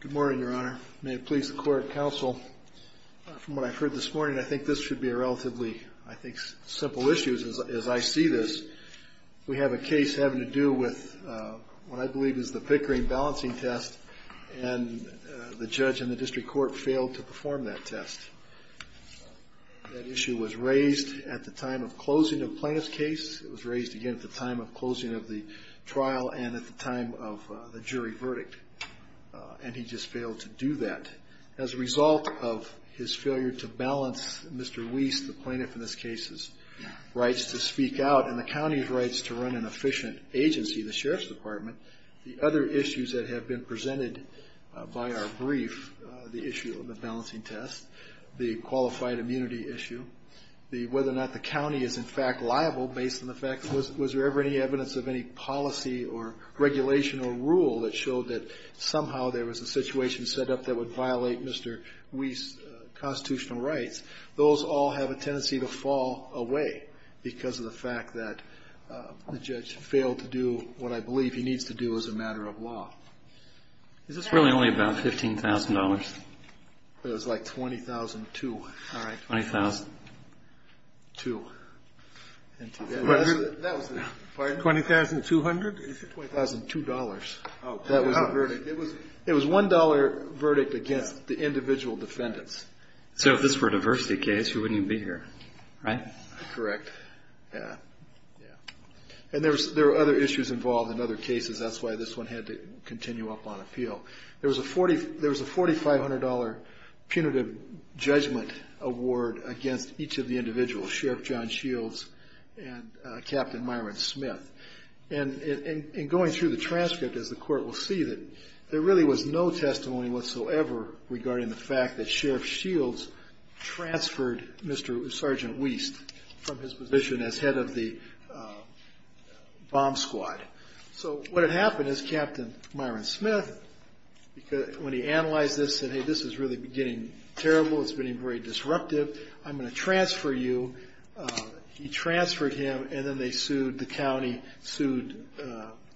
Good morning, Your Honor. May it please the Court and Counsel, from what I've heard this morning, I think this should be a relatively, I think, simple issue as I see this. We have a case having to do with what I believe is the Pickering balancing test, and the judge in the district court failed to perform that test. That issue was raised at the time of the closing of the trial and at the time of the jury verdict, and he just failed to do that. As a result of his failure to balance Mr. Weast, the plaintiff in this case's rights to speak out and the county's rights to run an efficient agency, the Sheriff's Department, the other issues that have been presented by our brief, the issue of the balancing test, the qualified immunity issue, whether or not the county is in fact liable based on the evidence of any policy or regulation or rule that showed that somehow there was a situation set up that would violate Mr. Weast's constitutional rights, those all have a tendency to fall away because of the fact that the judge failed to do what I believe he needs to do as a matter of law. Is this really only about $15,000? It was like $20,002. All right. $20,002. $20,200? $20,002. That was the verdict. It was a $1 verdict against the individual defendants. So if this were a diversity case, you wouldn't even be here, right? Correct. Yeah. Yeah. And there were other issues involved in other cases. That's why this one had to continue up on appeal. There was a $4,500 punitive judgment award against each of the individuals, Sheriff John Shields and Captain Myron Smith. And going through the transcript, as the court will see, there really was no testimony whatsoever regarding the fact that Sheriff Shields transferred Sergeant Weast from his position as head of bomb squad. So what had happened is Captain Myron Smith, when he analyzed this, said, hey, this is really getting terrible. It's getting very disruptive. I'm going to transfer you. He transferred him, and then they sued the county, sued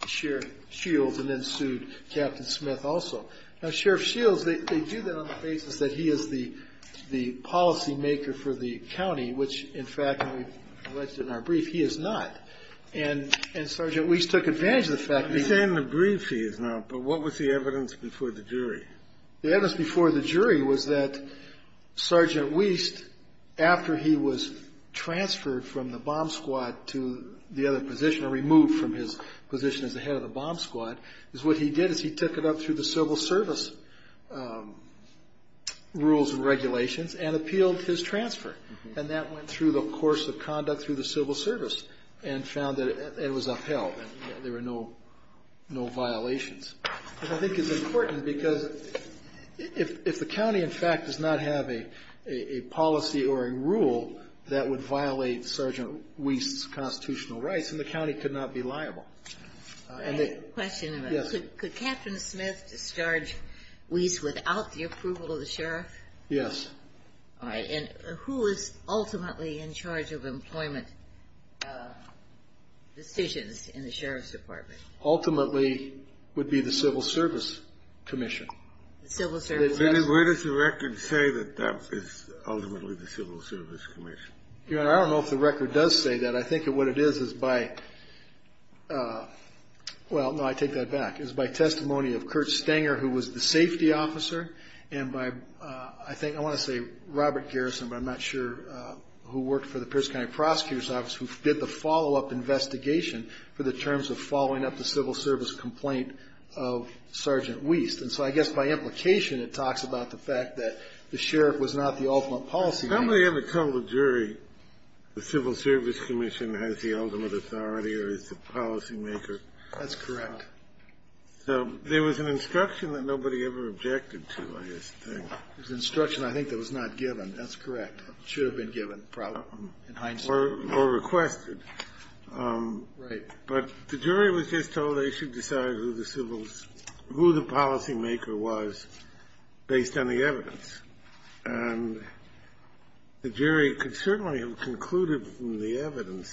Sheriff Shields, and then sued Captain Smith also. Now Sheriff Shields, they do that on the basis that he is the policy in our brief. He is not. And Sergeant Weast took advantage of the fact that he... He's in the brief. He is not. But what was the evidence before the jury? The evidence before the jury was that Sergeant Weast, after he was transferred from the bomb squad to the other position, or removed from his position as the head of the bomb squad, is what he did is he took it up through the civil service rules and regulations and appealed for his transfer. And that went through the course of conduct through the civil service and found that it was upheld. There were no violations. I think it's important because if the county, in fact, does not have a policy or a rule that would violate Sergeant Weast's constitutional rights, then the county could not be liable. And they... Right. Question. Yes. Could Captain Smith discharge Weast without the approval of the sheriff? Yes. All right. And who is ultimately in charge of employment decisions in the sheriff's department? Ultimately would be the civil service commission. The civil service... Where does the record say that that is ultimately the civil service commission? Your Honor, I don't know if the record does say that. I think what it is is by... Well, no, I take that back. It's by testimony of Kurt Stanger, who was the safety officer, and by, I think, I want to say Robert Garrison, but I'm not sure, who worked for the Pierce County Prosecutor's Office, who did the follow-up investigation for the terms of following up the civil service complaint of Sergeant Weast. And so I guess by implication it talks about the fact that the sheriff was not the ultimate policymaker. Has somebody ever told a jury the civil service commission has the ultimate authority or is the policymaker? That's correct. So there was an instruction that nobody ever objected to, I guess. There was an instruction, I think, that was not given. That's correct. It should have been given, probably, in hindsight. Or requested. Right. But the jury was just told they should decide who the civil's – who the policymaker was based on the evidence. And the jury could certainly have concluded from the evidence,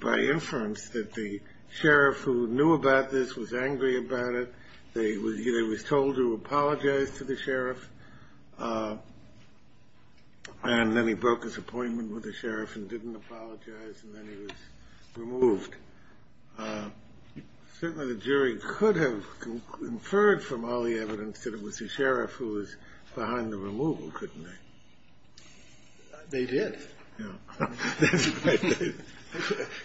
by inference, that the sheriff who knew about this was angry about it. They was told to apologize to the sheriff. And then he broke his appointment with the sheriff and didn't apologize, and then he was removed. Certainly the jury could have inferred from all the evidence that it was the sheriff who was behind the removal, couldn't they? They did. Yeah.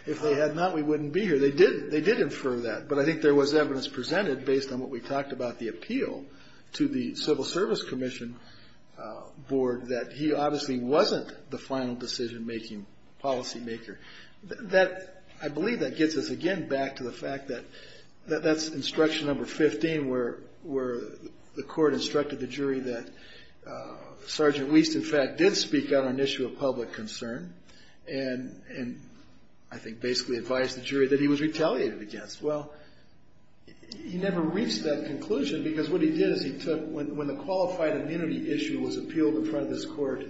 If they had not, we wouldn't be here. They did infer that. But I think there was evidence presented based on what we talked about, the appeal to the civil service commission board, that he obviously wasn't the final decision-making policymaker. I believe that gets us again back to the fact that that's instruction number 15, that did speak on an issue of public concern, and I think basically advised the jury that he was retaliated against. Well, he never reached that conclusion because what he did is he took – when the qualified immunity issue was appealed in front of this court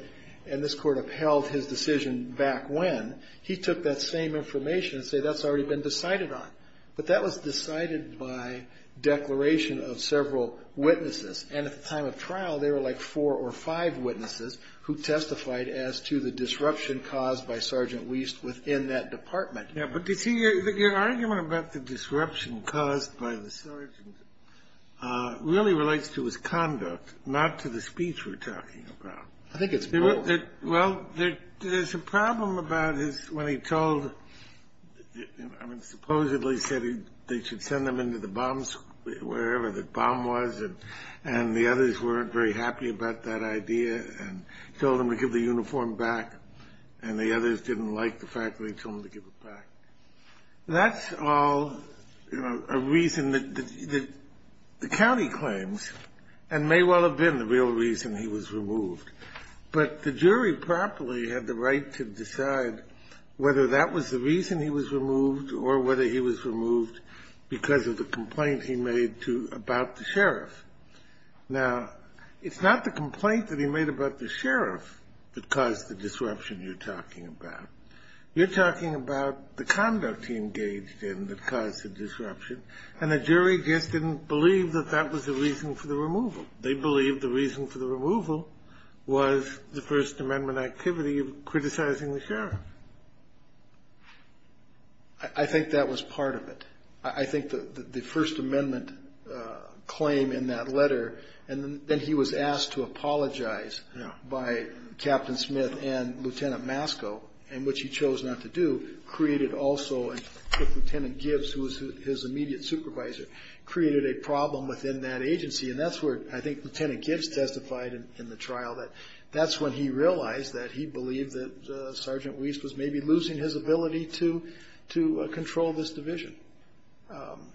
and this court upheld his decision back when, he took that same information and said that's already been decided on. But that was decided by declaration of several witnesses. And at the time of trial, there were like four or five witnesses who testified as to the disruption caused by Sergeant Wiest within that department. Yeah. But, you see, your argument about the disruption caused by the sergeant really relates to his conduct, not to the speech we're talking about. I think it's both. Well, there's a problem about his – when he told – I mean, supposedly said they should send them into the bombs – wherever the bomb was, and the others weren't very happy about that idea and told them to give the uniform back, and the others didn't like the fact that he told them to give it back. That's all a reason that the county claims and may well have been the real reason he was removed. But the jury promptly had the right to decide whether that was the reason he was removed or whether he was removed because of the complaint he made about the sheriff. Now, it's not the complaint that he made about the sheriff that caused the disruption you're talking about. You're talking about the conduct he engaged in that caused the disruption, and the jury just didn't believe that that was the reason for the removal. They believed the reason for the removal was the First Amendment activity of criticizing the sheriff. I think that was part of it. I think the First Amendment claim in that letter, and then he was asked to apologize by Captain Smith and Lieutenant Masco, in which he chose not to do, created also – and Lieutenant Gibbs, who was his immediate supervisor, created a problem within that agency, and that's where I think Lieutenant Gibbs testified in the trial that that's when he realized that he believed that Sergeant Weiss was maybe losing his ability to control this division.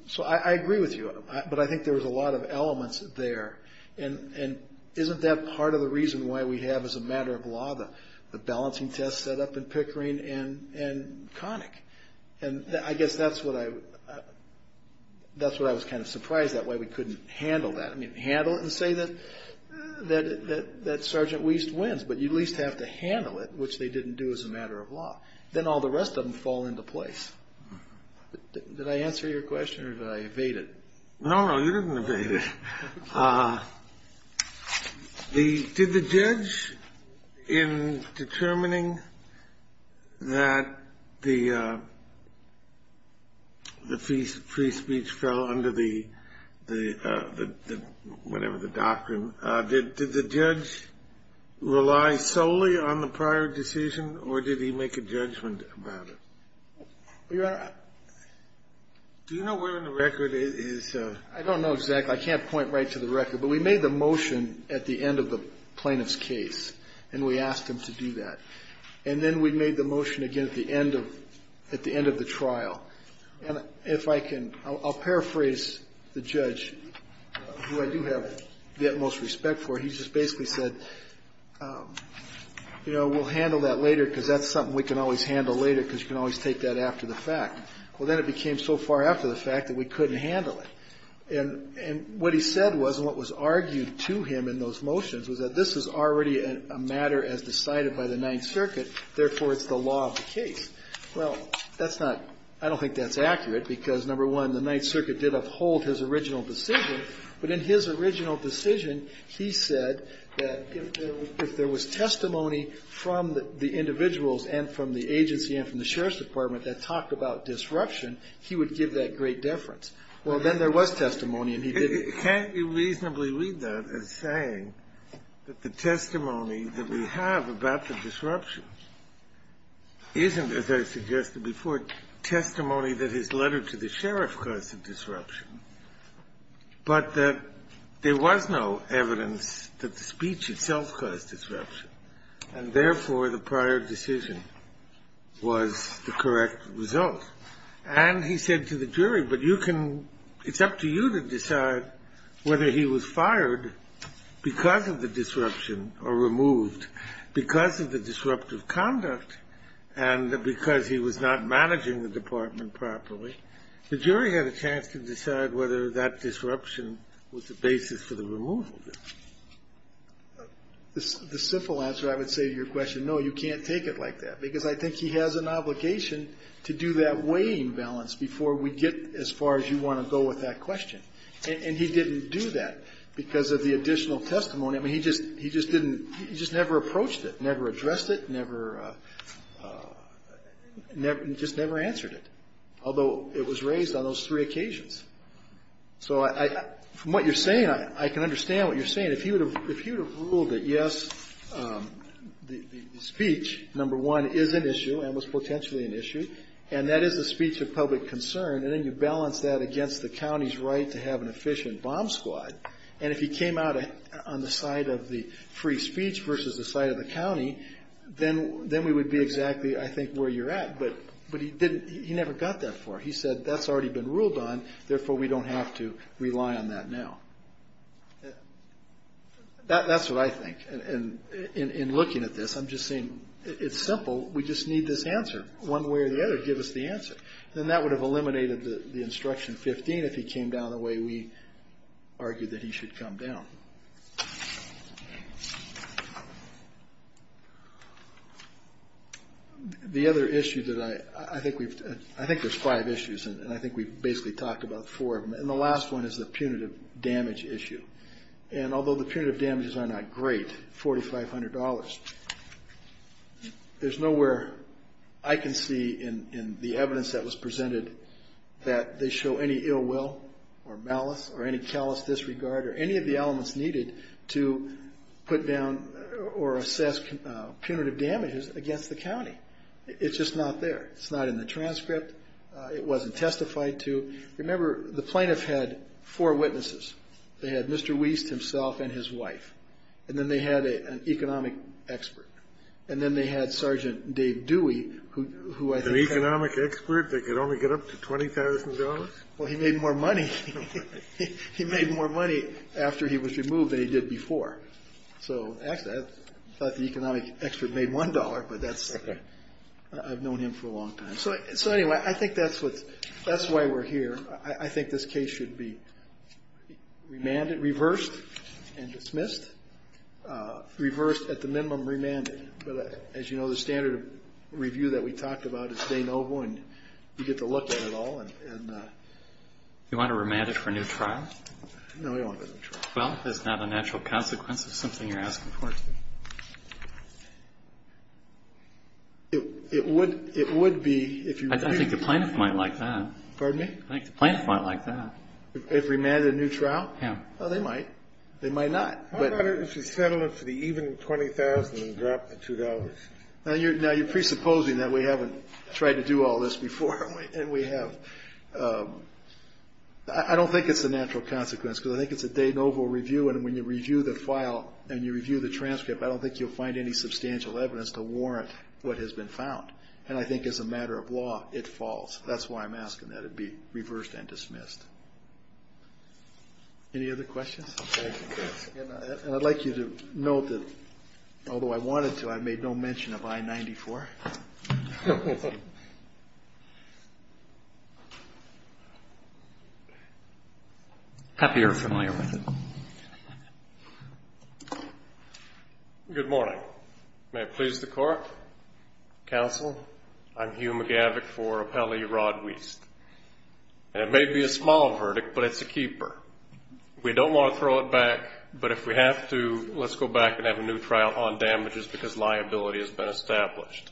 So I agree with you, but I think there was a lot of elements there. And isn't that part of the reason why we have, as a matter of law, the balancing test set up in Pickering and Connick? And I guess that's what I was kind of surprised at, why we couldn't handle that. I mean, handle it and say that Sergeant Weiss wins, but you at least have to handle it, which they didn't do as a matter of law. Then all the rest of them fall into place. Did I answer your question or did I evade it? No, no, you didn't evade it. Did the judge, in determining that the free speech fell under the – whatever the doctrine – did the judge rely solely on the prior decision or did he make a judgment about it? Your Honor, I don't know exactly. I can't point right to the record, but we made the motion at the end of the plaintiff's case, and we asked him to do that. And then we made the motion again at the end of the trial. And if I can – I'll paraphrase the judge, who I do have the utmost respect for. He just basically said, you know, we'll handle that later because that's something we can always handle later because you can always take that after the fact. Well, then it became so far after the fact that we couldn't handle it. And what he said was, and what was argued to him in those motions, was that this is already a matter as decided by the Ninth Circuit, therefore it's the law of the case. Well, that's not – I don't think that's accurate because, number one, the Ninth Circuit did uphold his original decision, but in his original decision he said that if there was testimony from the individuals and from the agency and from the Sheriff's Department that talked about disruption, he would give that great deference. Well, then there was testimony and he did it. Can't you reasonably read that as saying that the testimony that we have about the disruption isn't, as I suggested before, testimony that his letter to the sheriff caused the disruption, but that there was no evidence that the speech itself caused disruption and therefore the prior decision was the correct result? And he said to the jury, but you can – it's up to you to decide whether he was fired because of the disruption or removed because of the disruptive conduct and because he was not managing the department properly. The jury had a chance to decide whether that disruption was the basis for the removal. The simple answer, I would say to your question, no, you can't take it like that because I think he has an obligation to do that weighing balance before we get as far as you want to go with that question. And he didn't do that because of the additional testimony. I mean, he just didn't – he just never approached it, never addressed it, never – just never answered it, although it was raised on those three occasions. So from what you're saying, I can understand what you're saying. I mean, if he would have ruled that, yes, the speech, number one, is an issue and was potentially an issue, and that is the speech of public concern, and then you balance that against the county's right to have an efficient bomb squad, and if he came out on the side of the free speech versus the side of the county, then we would be exactly, I think, where you're at. But he didn't – he never got that far. He said that's already been ruled on, therefore we don't have to rely on that now. That's what I think. And in looking at this, I'm just saying it's simple. We just need this answer. One way or the other, give us the answer. Then that would have eliminated the Instruction 15 if he came down the way we argued that he should come down. Thank you. The other issue that I – I think we've – I think there's five issues, and I think we've basically talked about four of them, and the last one is the punitive damage issue. And although the punitive damages are not great, $4,500, there's nowhere I can see in the evidence that was presented that they show any ill will or malice or any callous disregard or any of the elements needed to put down or assess punitive damages against the county. It's just not there. It's not in the transcript. It wasn't testified to. Remember, the plaintiff had four witnesses. They had Mr. Wiest himself and his wife, and then they had an economic expert, and then they had Sergeant Dave Dewey, who I think – An economic expert that could only get up to $20,000? Well, he made more money. He made more money after he was removed than he did before. So, actually, I thought the economic expert made $1, but that's – I've known him for a long time. So, anyway, I think that's why we're here. I think this case should be remanded, reversed, and dismissed. Reversed at the minimum, remanded. But, as you know, the standard review that we talked about is de novo, and you get to look at it all. You want to remand it for a new trial? No, we don't want it for a new trial. Well, if it's not a natural consequence of something you're asking for. It would be if you – I think the plaintiff might like that. Pardon me? I think the plaintiff might like that. If remanded a new trial? Yeah. Well, they might. They might not. How about if you settle it for the even $20,000 and drop the $2,000? Now, you're presupposing that we haven't tried to do all this before, and we have. I don't think it's a natural consequence, because I think it's a de novo review, and when you review the file and you review the transcript, I don't think you'll find any substantial evidence to warrant what has been found. And I think, as a matter of law, it falls. That's why I'm asking that it be reversed and dismissed. Any other questions? Okay. And I'd like you to note that, although I wanted to, I made no mention of I-94. Happy you're familiar with it. Good morning. May it please the Court, Counsel, I'm Hugh McGavock for Appellee Rod Weiss. And it may be a small verdict, but it's a keeper. We don't want to throw it back, but if we have to, let's go back and have a new trial on damages, because liability has been established.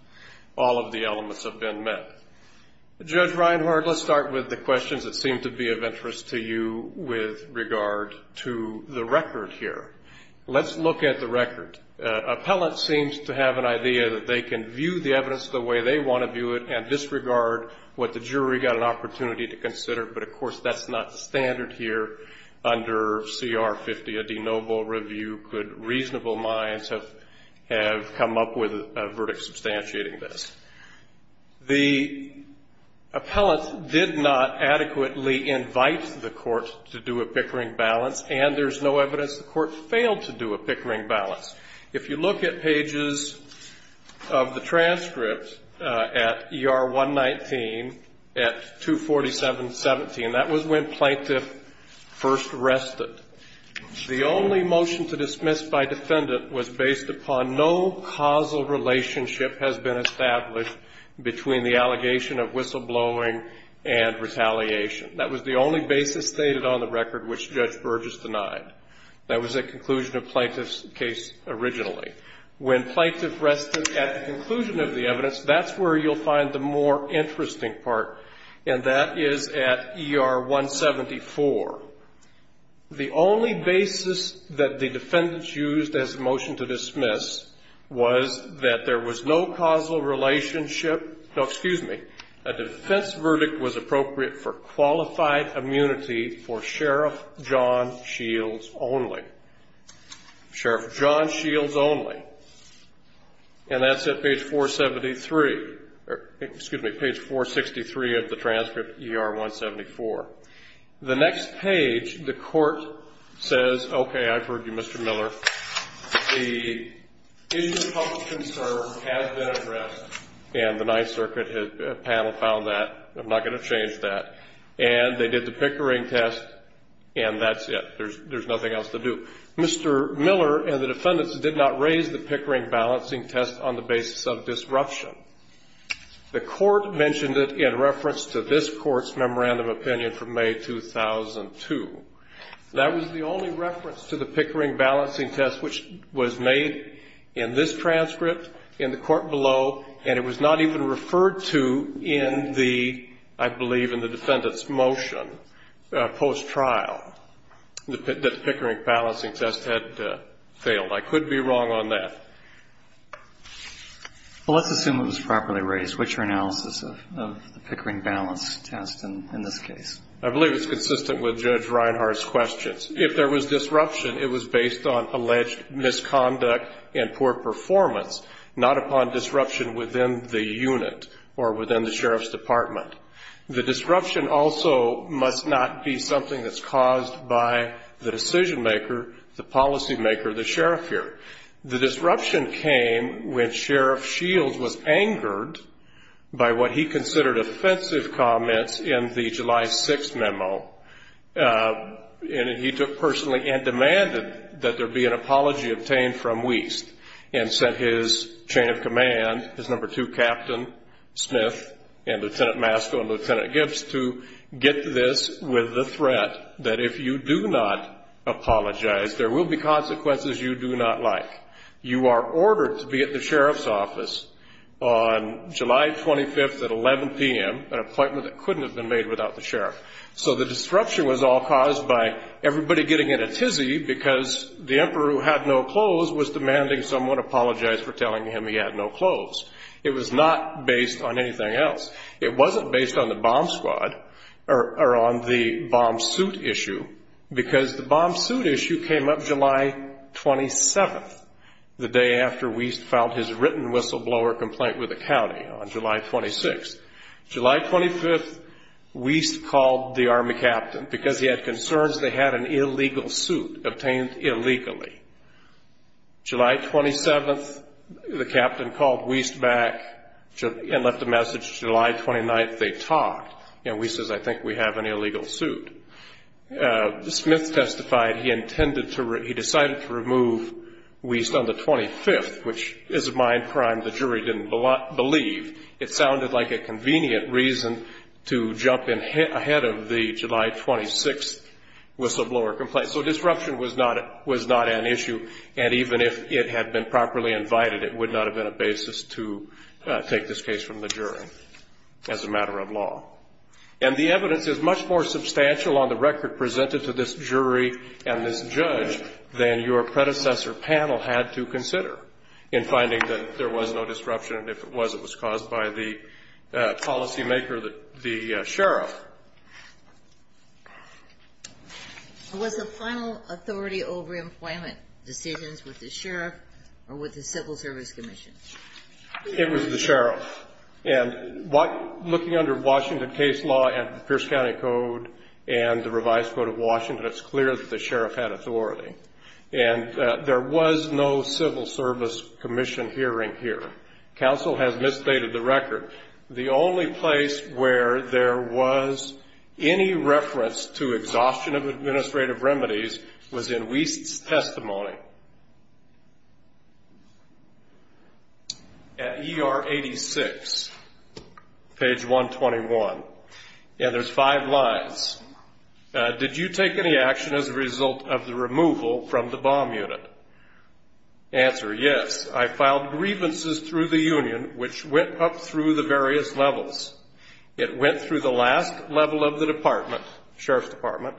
All of the elements have been met. Judge Reinhart, let's start with the questions that seem to be of interest to you with regard to the record here. Let's look at the record. Appellant seems to have an idea that they can view the evidence the way they want to view it and disregard what the jury got an opportunity to consider. But, of course, that's not standard here under CR 50. A de nobis review could reasonable minds have come up with a verdict substantiating this. The appellant did not adequately invite the court to do a pickering balance, and there's no evidence the court failed to do a pickering balance. If you look at pages of the transcript at ER 119 at 247.17, that was when plaintiff first arrested. The only motion to dismiss by defendant was based upon no causal relationship has been established between the allegation of whistleblowing and retaliation. That was the only basis stated on the record which Judge Burgess denied. That was the conclusion of plaintiff's case originally. When plaintiff rested at the conclusion of the evidence, that's where you'll find the more interesting part, and that is at ER 174. The only basis that the defendants used as a motion to dismiss was that there was no causal relationship. No, excuse me. A defense verdict was appropriate for qualified immunity for Sheriff John Shields only. Sheriff John Shields only. And that's at page 473. Excuse me, page 463 of the transcript, ER 174. The next page, the court says, okay, I've heard you, Mr. Miller. The issue of public concern has been addressed, and the Ninth Circuit panel found that. I'm not going to change that. And they did the Pickering test, and that's it. There's nothing else to do. Mr. Miller and the defendants did not raise the Pickering balancing test on the basis of disruption. The court mentioned it in reference to this court's memorandum of opinion from May 2002. That was the only reference to the Pickering balancing test which was made in this transcript in the court below, and it was not even referred to in the, I believe, in the defendant's motion post-trial, that the Pickering balancing test had failed. I could be wrong on that. Well, let's assume it was properly raised. What's your analysis of the Pickering balance test in this case? I believe it's consistent with Judge Reinhart's questions. If there was disruption, it was based on alleged misconduct and poor performance, not upon disruption within the unit or within the sheriff's department. The disruption also must not be something that's caused by the decision-maker, the policy-maker, the sheriff here. The disruption came when Sheriff Shields was angered by what he considered offensive comments in the July 6th memo, and he took personally and demanded that there be an apology obtained from Wiest and sent his chain of command, his number two captain, Smith, and Lieutenant Masco and Lieutenant Gibbs, to get this with the threat that if you do not apologize, there will be consequences you do not like. You are ordered to be at the sheriff's office on July 25th at 11 p.m., an appointment that couldn't have been made without the sheriff. So the disruption was all caused by everybody getting in a tizzy because the emperor, who had no clothes, was demanding someone apologize for telling him he had no clothes. It was not based on anything else. It wasn't based on the bomb squad or on the bomb suit issue because the bomb suit issue came up July 27th, the day after Wiest filed his written whistleblower complaint with the county on July 26th. July 25th, Wiest called the army captain because he had concerns they had an illegal suit obtained illegally. July 27th, the captain called Wiest back and left a message. July 29th, they talked, and Wiest says, I think we have an illegal suit. Smith testified he decided to remove Wiest on the 25th, which is a mind crime the jury didn't believe. It sounded like a convenient reason to jump ahead of the July 26th whistleblower complaint. So disruption was not an issue, and even if it had been properly invited, it would not have been a basis to take this case from the jury as a matter of law. And the evidence is much more substantial on the record presented to this jury and this judge than your predecessor panel had to consider in finding that there was no disruption, and if it was, it was caused by the policymaker, the sheriff. Was the final authority over employment decisions with the sheriff or with the civil service commission? It was the sheriff, and looking under Washington case law and Pierce County Code and the revised code of Washington, it's clear that the sheriff had authority. And there was no civil service commission hearing here. Counsel has misstated the record. The only place where there was any reference to exhaustion of administrative remedies was in Wiest's testimony. At ER 86, page 121, and there's five lines. Did you take any action as a result of the removal from the bomb unit? Answer, yes. I filed grievances through the union, which went up through the various levels. It went through the last level of the department, sheriff's department,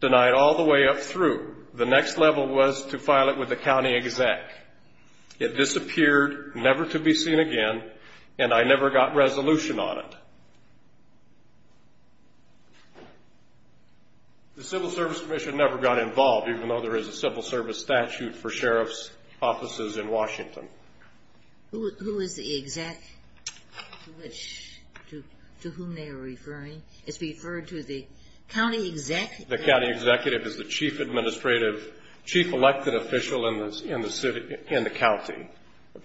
denied all the way up through. The next level was to file it with the county exec. It disappeared, never to be seen again, and I never got resolution on it. The civil service commission never got involved, even though there is a civil service statute for sheriff's offices in Washington. Who is the exec to whom they are referring? It's referred to the county exec. The county executive is the chief elected official in the county,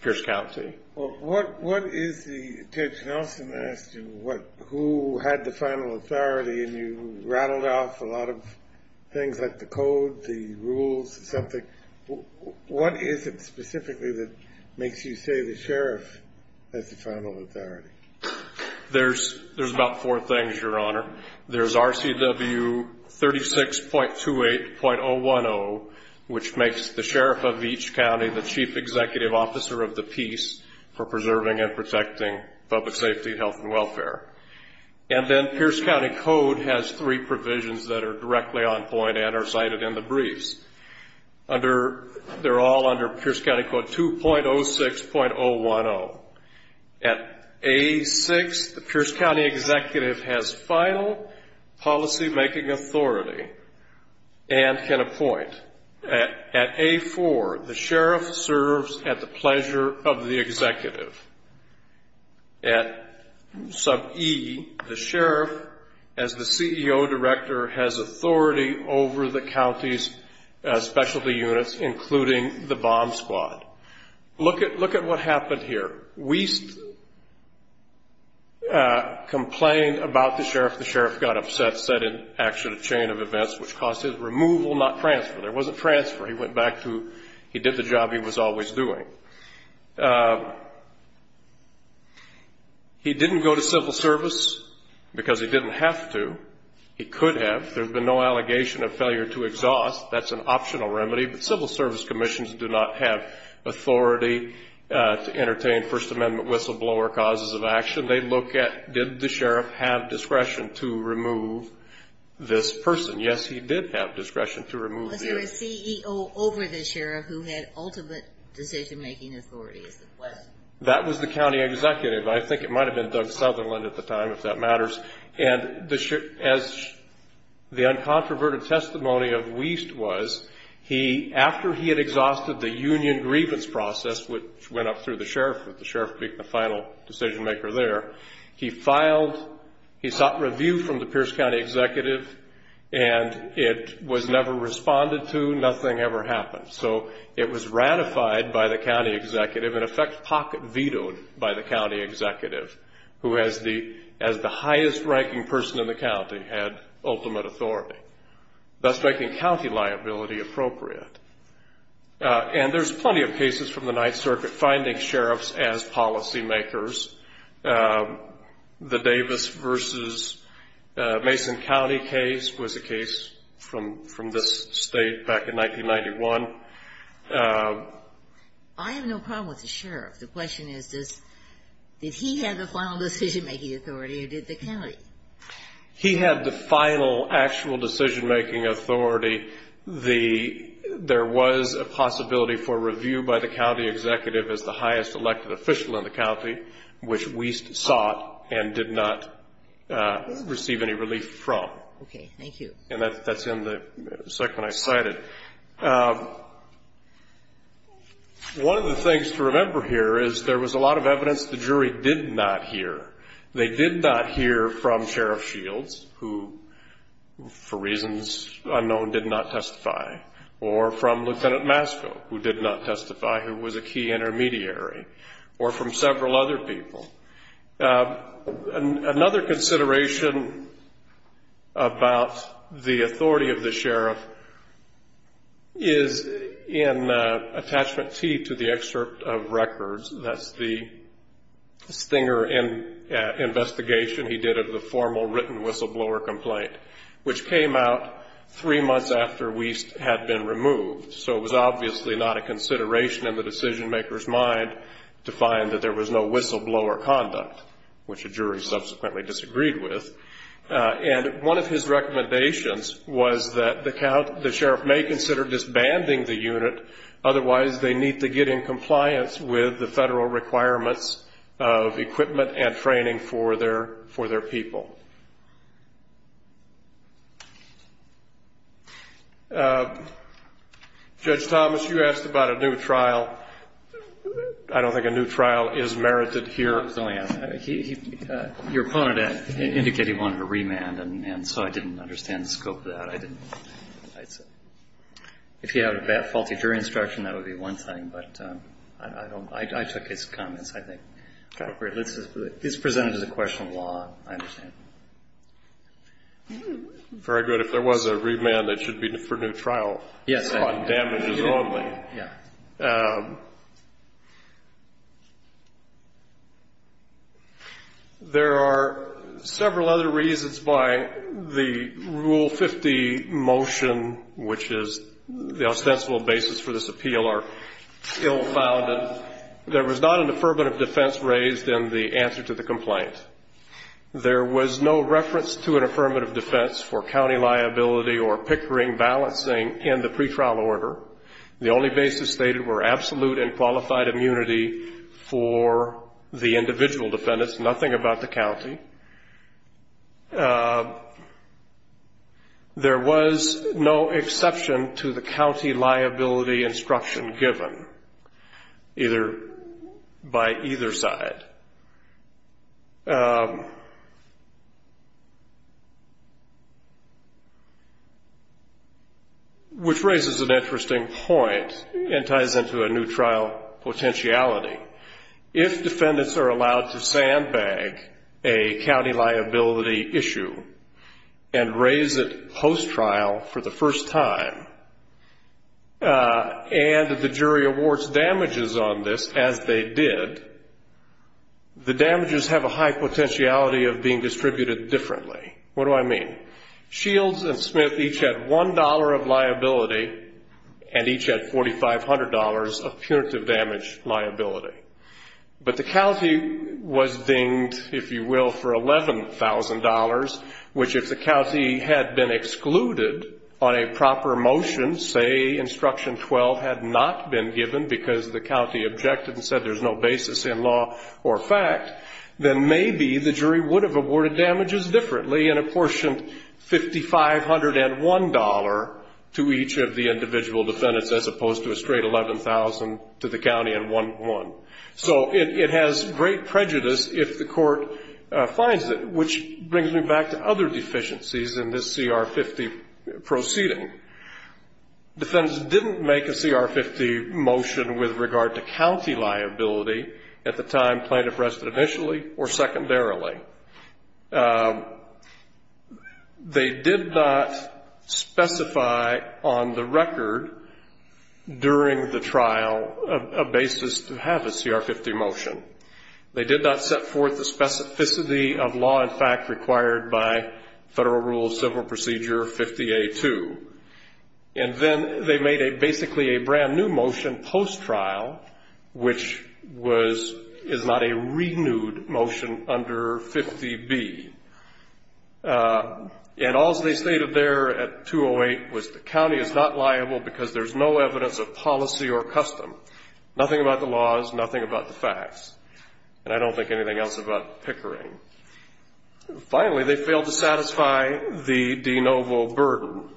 Pierce County. Judge Nelson asked you who had the final authority, and you rattled off a lot of things like the code, the rules, something. What is it specifically that makes you say the sheriff has the final authority? There's about four things, Your Honor. There's RCW 36.28.010, which makes the sheriff of each county the chief executive officer of the peace for preserving and protecting public safety, health, and welfare. And then Pierce County Code has three provisions that are directly on point and are cited in the briefs. They're all under Pierce County Code 2.06.010. At A6, the Pierce County executive has final policymaking authority and can appoint. At A4, the sheriff serves at the pleasure of the executive. At sub E, the sheriff, as the CEO director, has authority over the county's specialty units, including the bomb squad. Look at what happened here. Wiest complained about the sheriff. The sheriff got upset, set in action a chain of events, which caused his removal, not transfer. There wasn't transfer. He went back to he did the job he was always doing. He didn't go to civil service because he didn't have to. He could have. There's been no allegation of failure to exhaust. That's an optional remedy. But civil service commissions do not have authority to entertain First Amendment whistleblower causes of action. They look at did the sheriff have discretion to remove this person. Yes, he did have discretion to remove him. Was there a CEO over the sheriff who had ultimate decision-making authority is the question. That was the county executive. I think it might have been Doug Sutherland at the time, if that matters. As the uncontroverted testimony of Wiest was, after he had exhausted the union grievance process, which went up through the sheriff, with the sheriff being the final decision-maker there, he filed, he sought review from the Pierce County executive, and it was never responded to. Nothing ever happened. So it was ratified by the county executive, in effect pocket-vetoed by the county executive, who, as the highest-ranking person in the county, had ultimate authority, thus making county liability appropriate. And there's plenty of cases from the Ninth Circuit finding sheriffs as policymakers. The Davis v. Mason County case was a case from this state back in 1991. I have no problem with the sheriff. The question is, did he have the final decision-making authority, or did the county? He had the final actual decision-making authority. There was a possibility for review by the county executive as the highest elected official in the county, which Wiest sought and did not receive any relief from. Okay. Thank you. And that's in the second I cited. One of the things to remember here is there was a lot of evidence the jury did not hear. They did not hear from Sheriff Shields, who, for reasons unknown, did not testify, or from Lieutenant Masco, who did not testify, who was a key intermediary, or from several other people. Another consideration about the authority of the sheriff is in Attachment T to the excerpt of records. That's the Stinger investigation he did of the formal written whistleblower complaint, which came out three months after Wiest had been removed. So it was obviously not a consideration in the decision-maker's mind to find that there was no whistleblower conduct, which the jury subsequently disagreed with. And one of his recommendations was that the sheriff may consider disbanding the unit, otherwise they need to get in compliance with the federal requirements of equipment and training for their people. Judge Thomas, you asked about a new trial. I don't think a new trial is merited here. Your opponent indicated he wanted a remand, and so I didn't understand the scope of that. If you have a faulty jury instruction, that would be one thing. But I don't know. I took his comments, I think. Okay. This is presented as a question of law. I understand. Very good. If there was a remand, it should be for new trial. Yes. On damages only. Yeah. There are several other reasons why the Rule 50 motion, which is the ostensible basis for this appeal, are still founded. There was not an affirmative defense raised in the answer to the complaint. There was no reference to an affirmative defense for county liability or pickering, balancing in the pretrial order. The only basis stated were absolute and qualified immunity for the individual defendants, nothing about the county. There was no exception to the county liability instruction given, either by either side, which raises an interesting point and ties into a new trial potentiality. If defendants are allowed to sandbag a county liability issue and raise it post-trial for the first time, and the jury awards damages on this as they did, the damages have a high potentiality of being distributed differently. What do I mean? Shields and Smith each had $1 of liability and each had $4,500 of punitive damage liability. But the county was dinged, if you will, for $11,000, which if the county had been excluded on a proper motion, say instruction 12 had not been given because the county objected and said there's no basis in law or fact, then maybe the jury would have awarded damages differently and apportioned $5,501 to each of the individual defendants, as opposed to a straight $11,000 to the county and one. So it has great prejudice if the court finds it, which brings me back to other deficiencies in this CR 50 proceeding. Defendants didn't make a CR 50 motion with regard to county liability at the time plaintiff rested initially or secondarily. They did not specify on the record during the trial a basis to have a CR 50 motion. They did not set forth the specificity of law and fact required by Federal Rule of Civil Procedure 50A2. And then they made basically a brand-new motion post-trial, which is not a renewed motion under 50B. And all they stated there at 208 was the county is not liable because there's no evidence of policy or custom, nothing about the laws, nothing about the facts, and I don't think anything else about pickering. Finally, they failed to satisfy the de novo burden,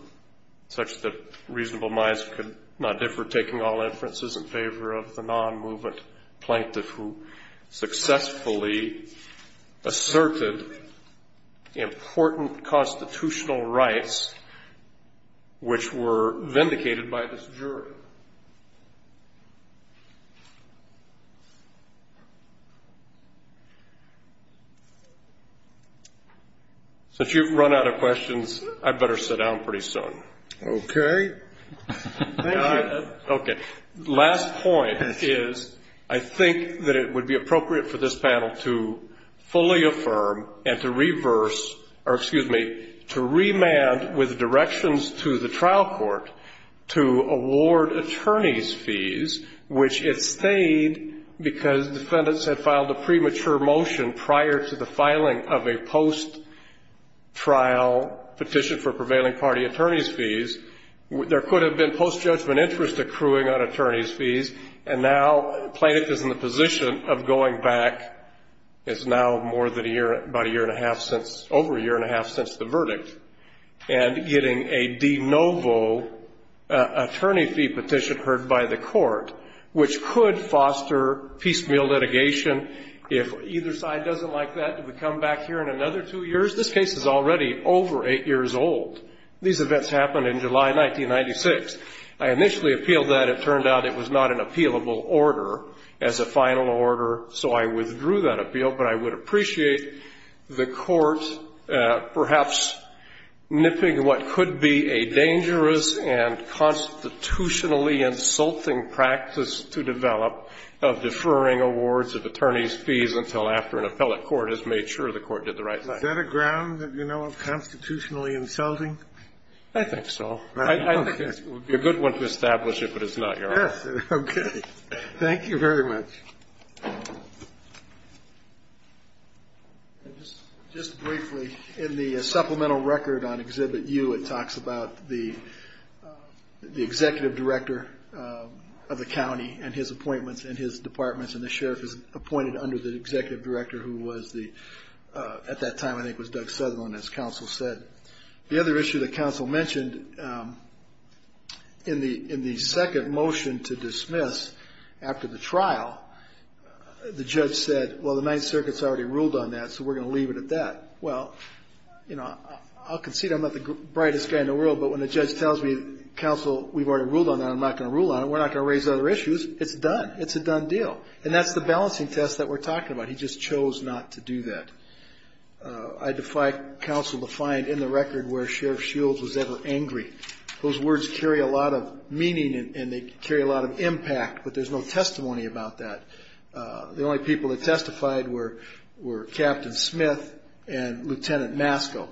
such that reasonable minds could not differ taking all inferences in favor of the non-movement plaintiff who successfully asserted important constitutional rights, which were vindicated by this jury. Since you've run out of questions, I'd better sit down pretty soon. Okay. Thank you. Okay. Last point is I think that it would be appropriate for this panel to fully affirm and to reverse or, excuse me, to remand with directions to the trial court to award attorney's fees, which it stayed because defendants had filed a premature motion prior to the filing of a post-trial petition for prevailing party attorney's fees. There could have been post-judgment interest accruing on attorney's fees, and now the plaintiff is in the position of going back. It's now more than a year, about a year and a half since, over a year and a half since the verdict, and getting a de novo attorney fee petition heard by the court, which could foster piecemeal litigation. If either side doesn't like that, do we come back here in another two years? This case is already over eight years old. These events happened in July 1996. I initially appealed that. It turned out it was not an appealable order as a final order, so I withdrew that appeal. But I would appreciate the court perhaps nipping what could be a dangerous and constitutionally insulting practice to develop of deferring awards of attorney's fees until after an appellate court has made sure the court did the right thing. Is that a ground, you know, of constitutionally insulting? I think so. It would be a good one to establish it, but it's not, Your Honor. Okay. Thank you very much. Just briefly, in the supplemental record on Exhibit U, it talks about the executive director of the county and his appointments in his departments, and the sheriff is appointed under the executive director, who was at that time, I think, was Doug Sutherland, as counsel said. The other issue that counsel mentioned in the second motion to dismiss after the trial, the judge said, well, the Ninth Circuit's already ruled on that, so we're going to leave it at that. Well, you know, I'll concede I'm not the brightest guy in the world, but when a judge tells me, counsel, we've already ruled on that, I'm not going to rule on it, we're not going to raise other issues, it's done. It's a done deal. And that's the balancing test that we're talking about. He just chose not to do that. I defy counsel to find in the record where Sheriff Shields was ever angry. Those words carry a lot of meaning and they carry a lot of impact, but there's no testimony about that. The only people that testified were Captain Smith and Lieutenant Masco.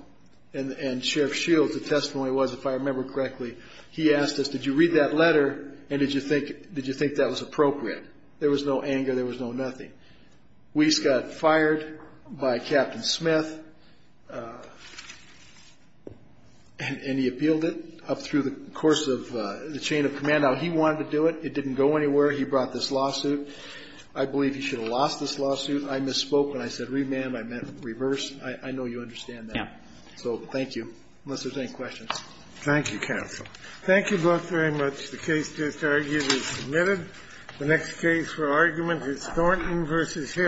And Sheriff Shields, the testimony was, if I remember correctly, he asked us, did you read that letter and did you think that was appropriate? There was no anger, there was no nothing. Weiss got fired by Captain Smith and he appealed it up through the course of the chain of command. Now, he wanted to do it. It didn't go anywhere. He brought this lawsuit. I believe he should have lost this lawsuit. I misspoke when I said remand. I meant reverse. I know you understand that. So thank you, unless there's any questions. Thank you, counsel. Thank you both very much. The case just argued is admitted. The next case for argument is Thornton v. Hill.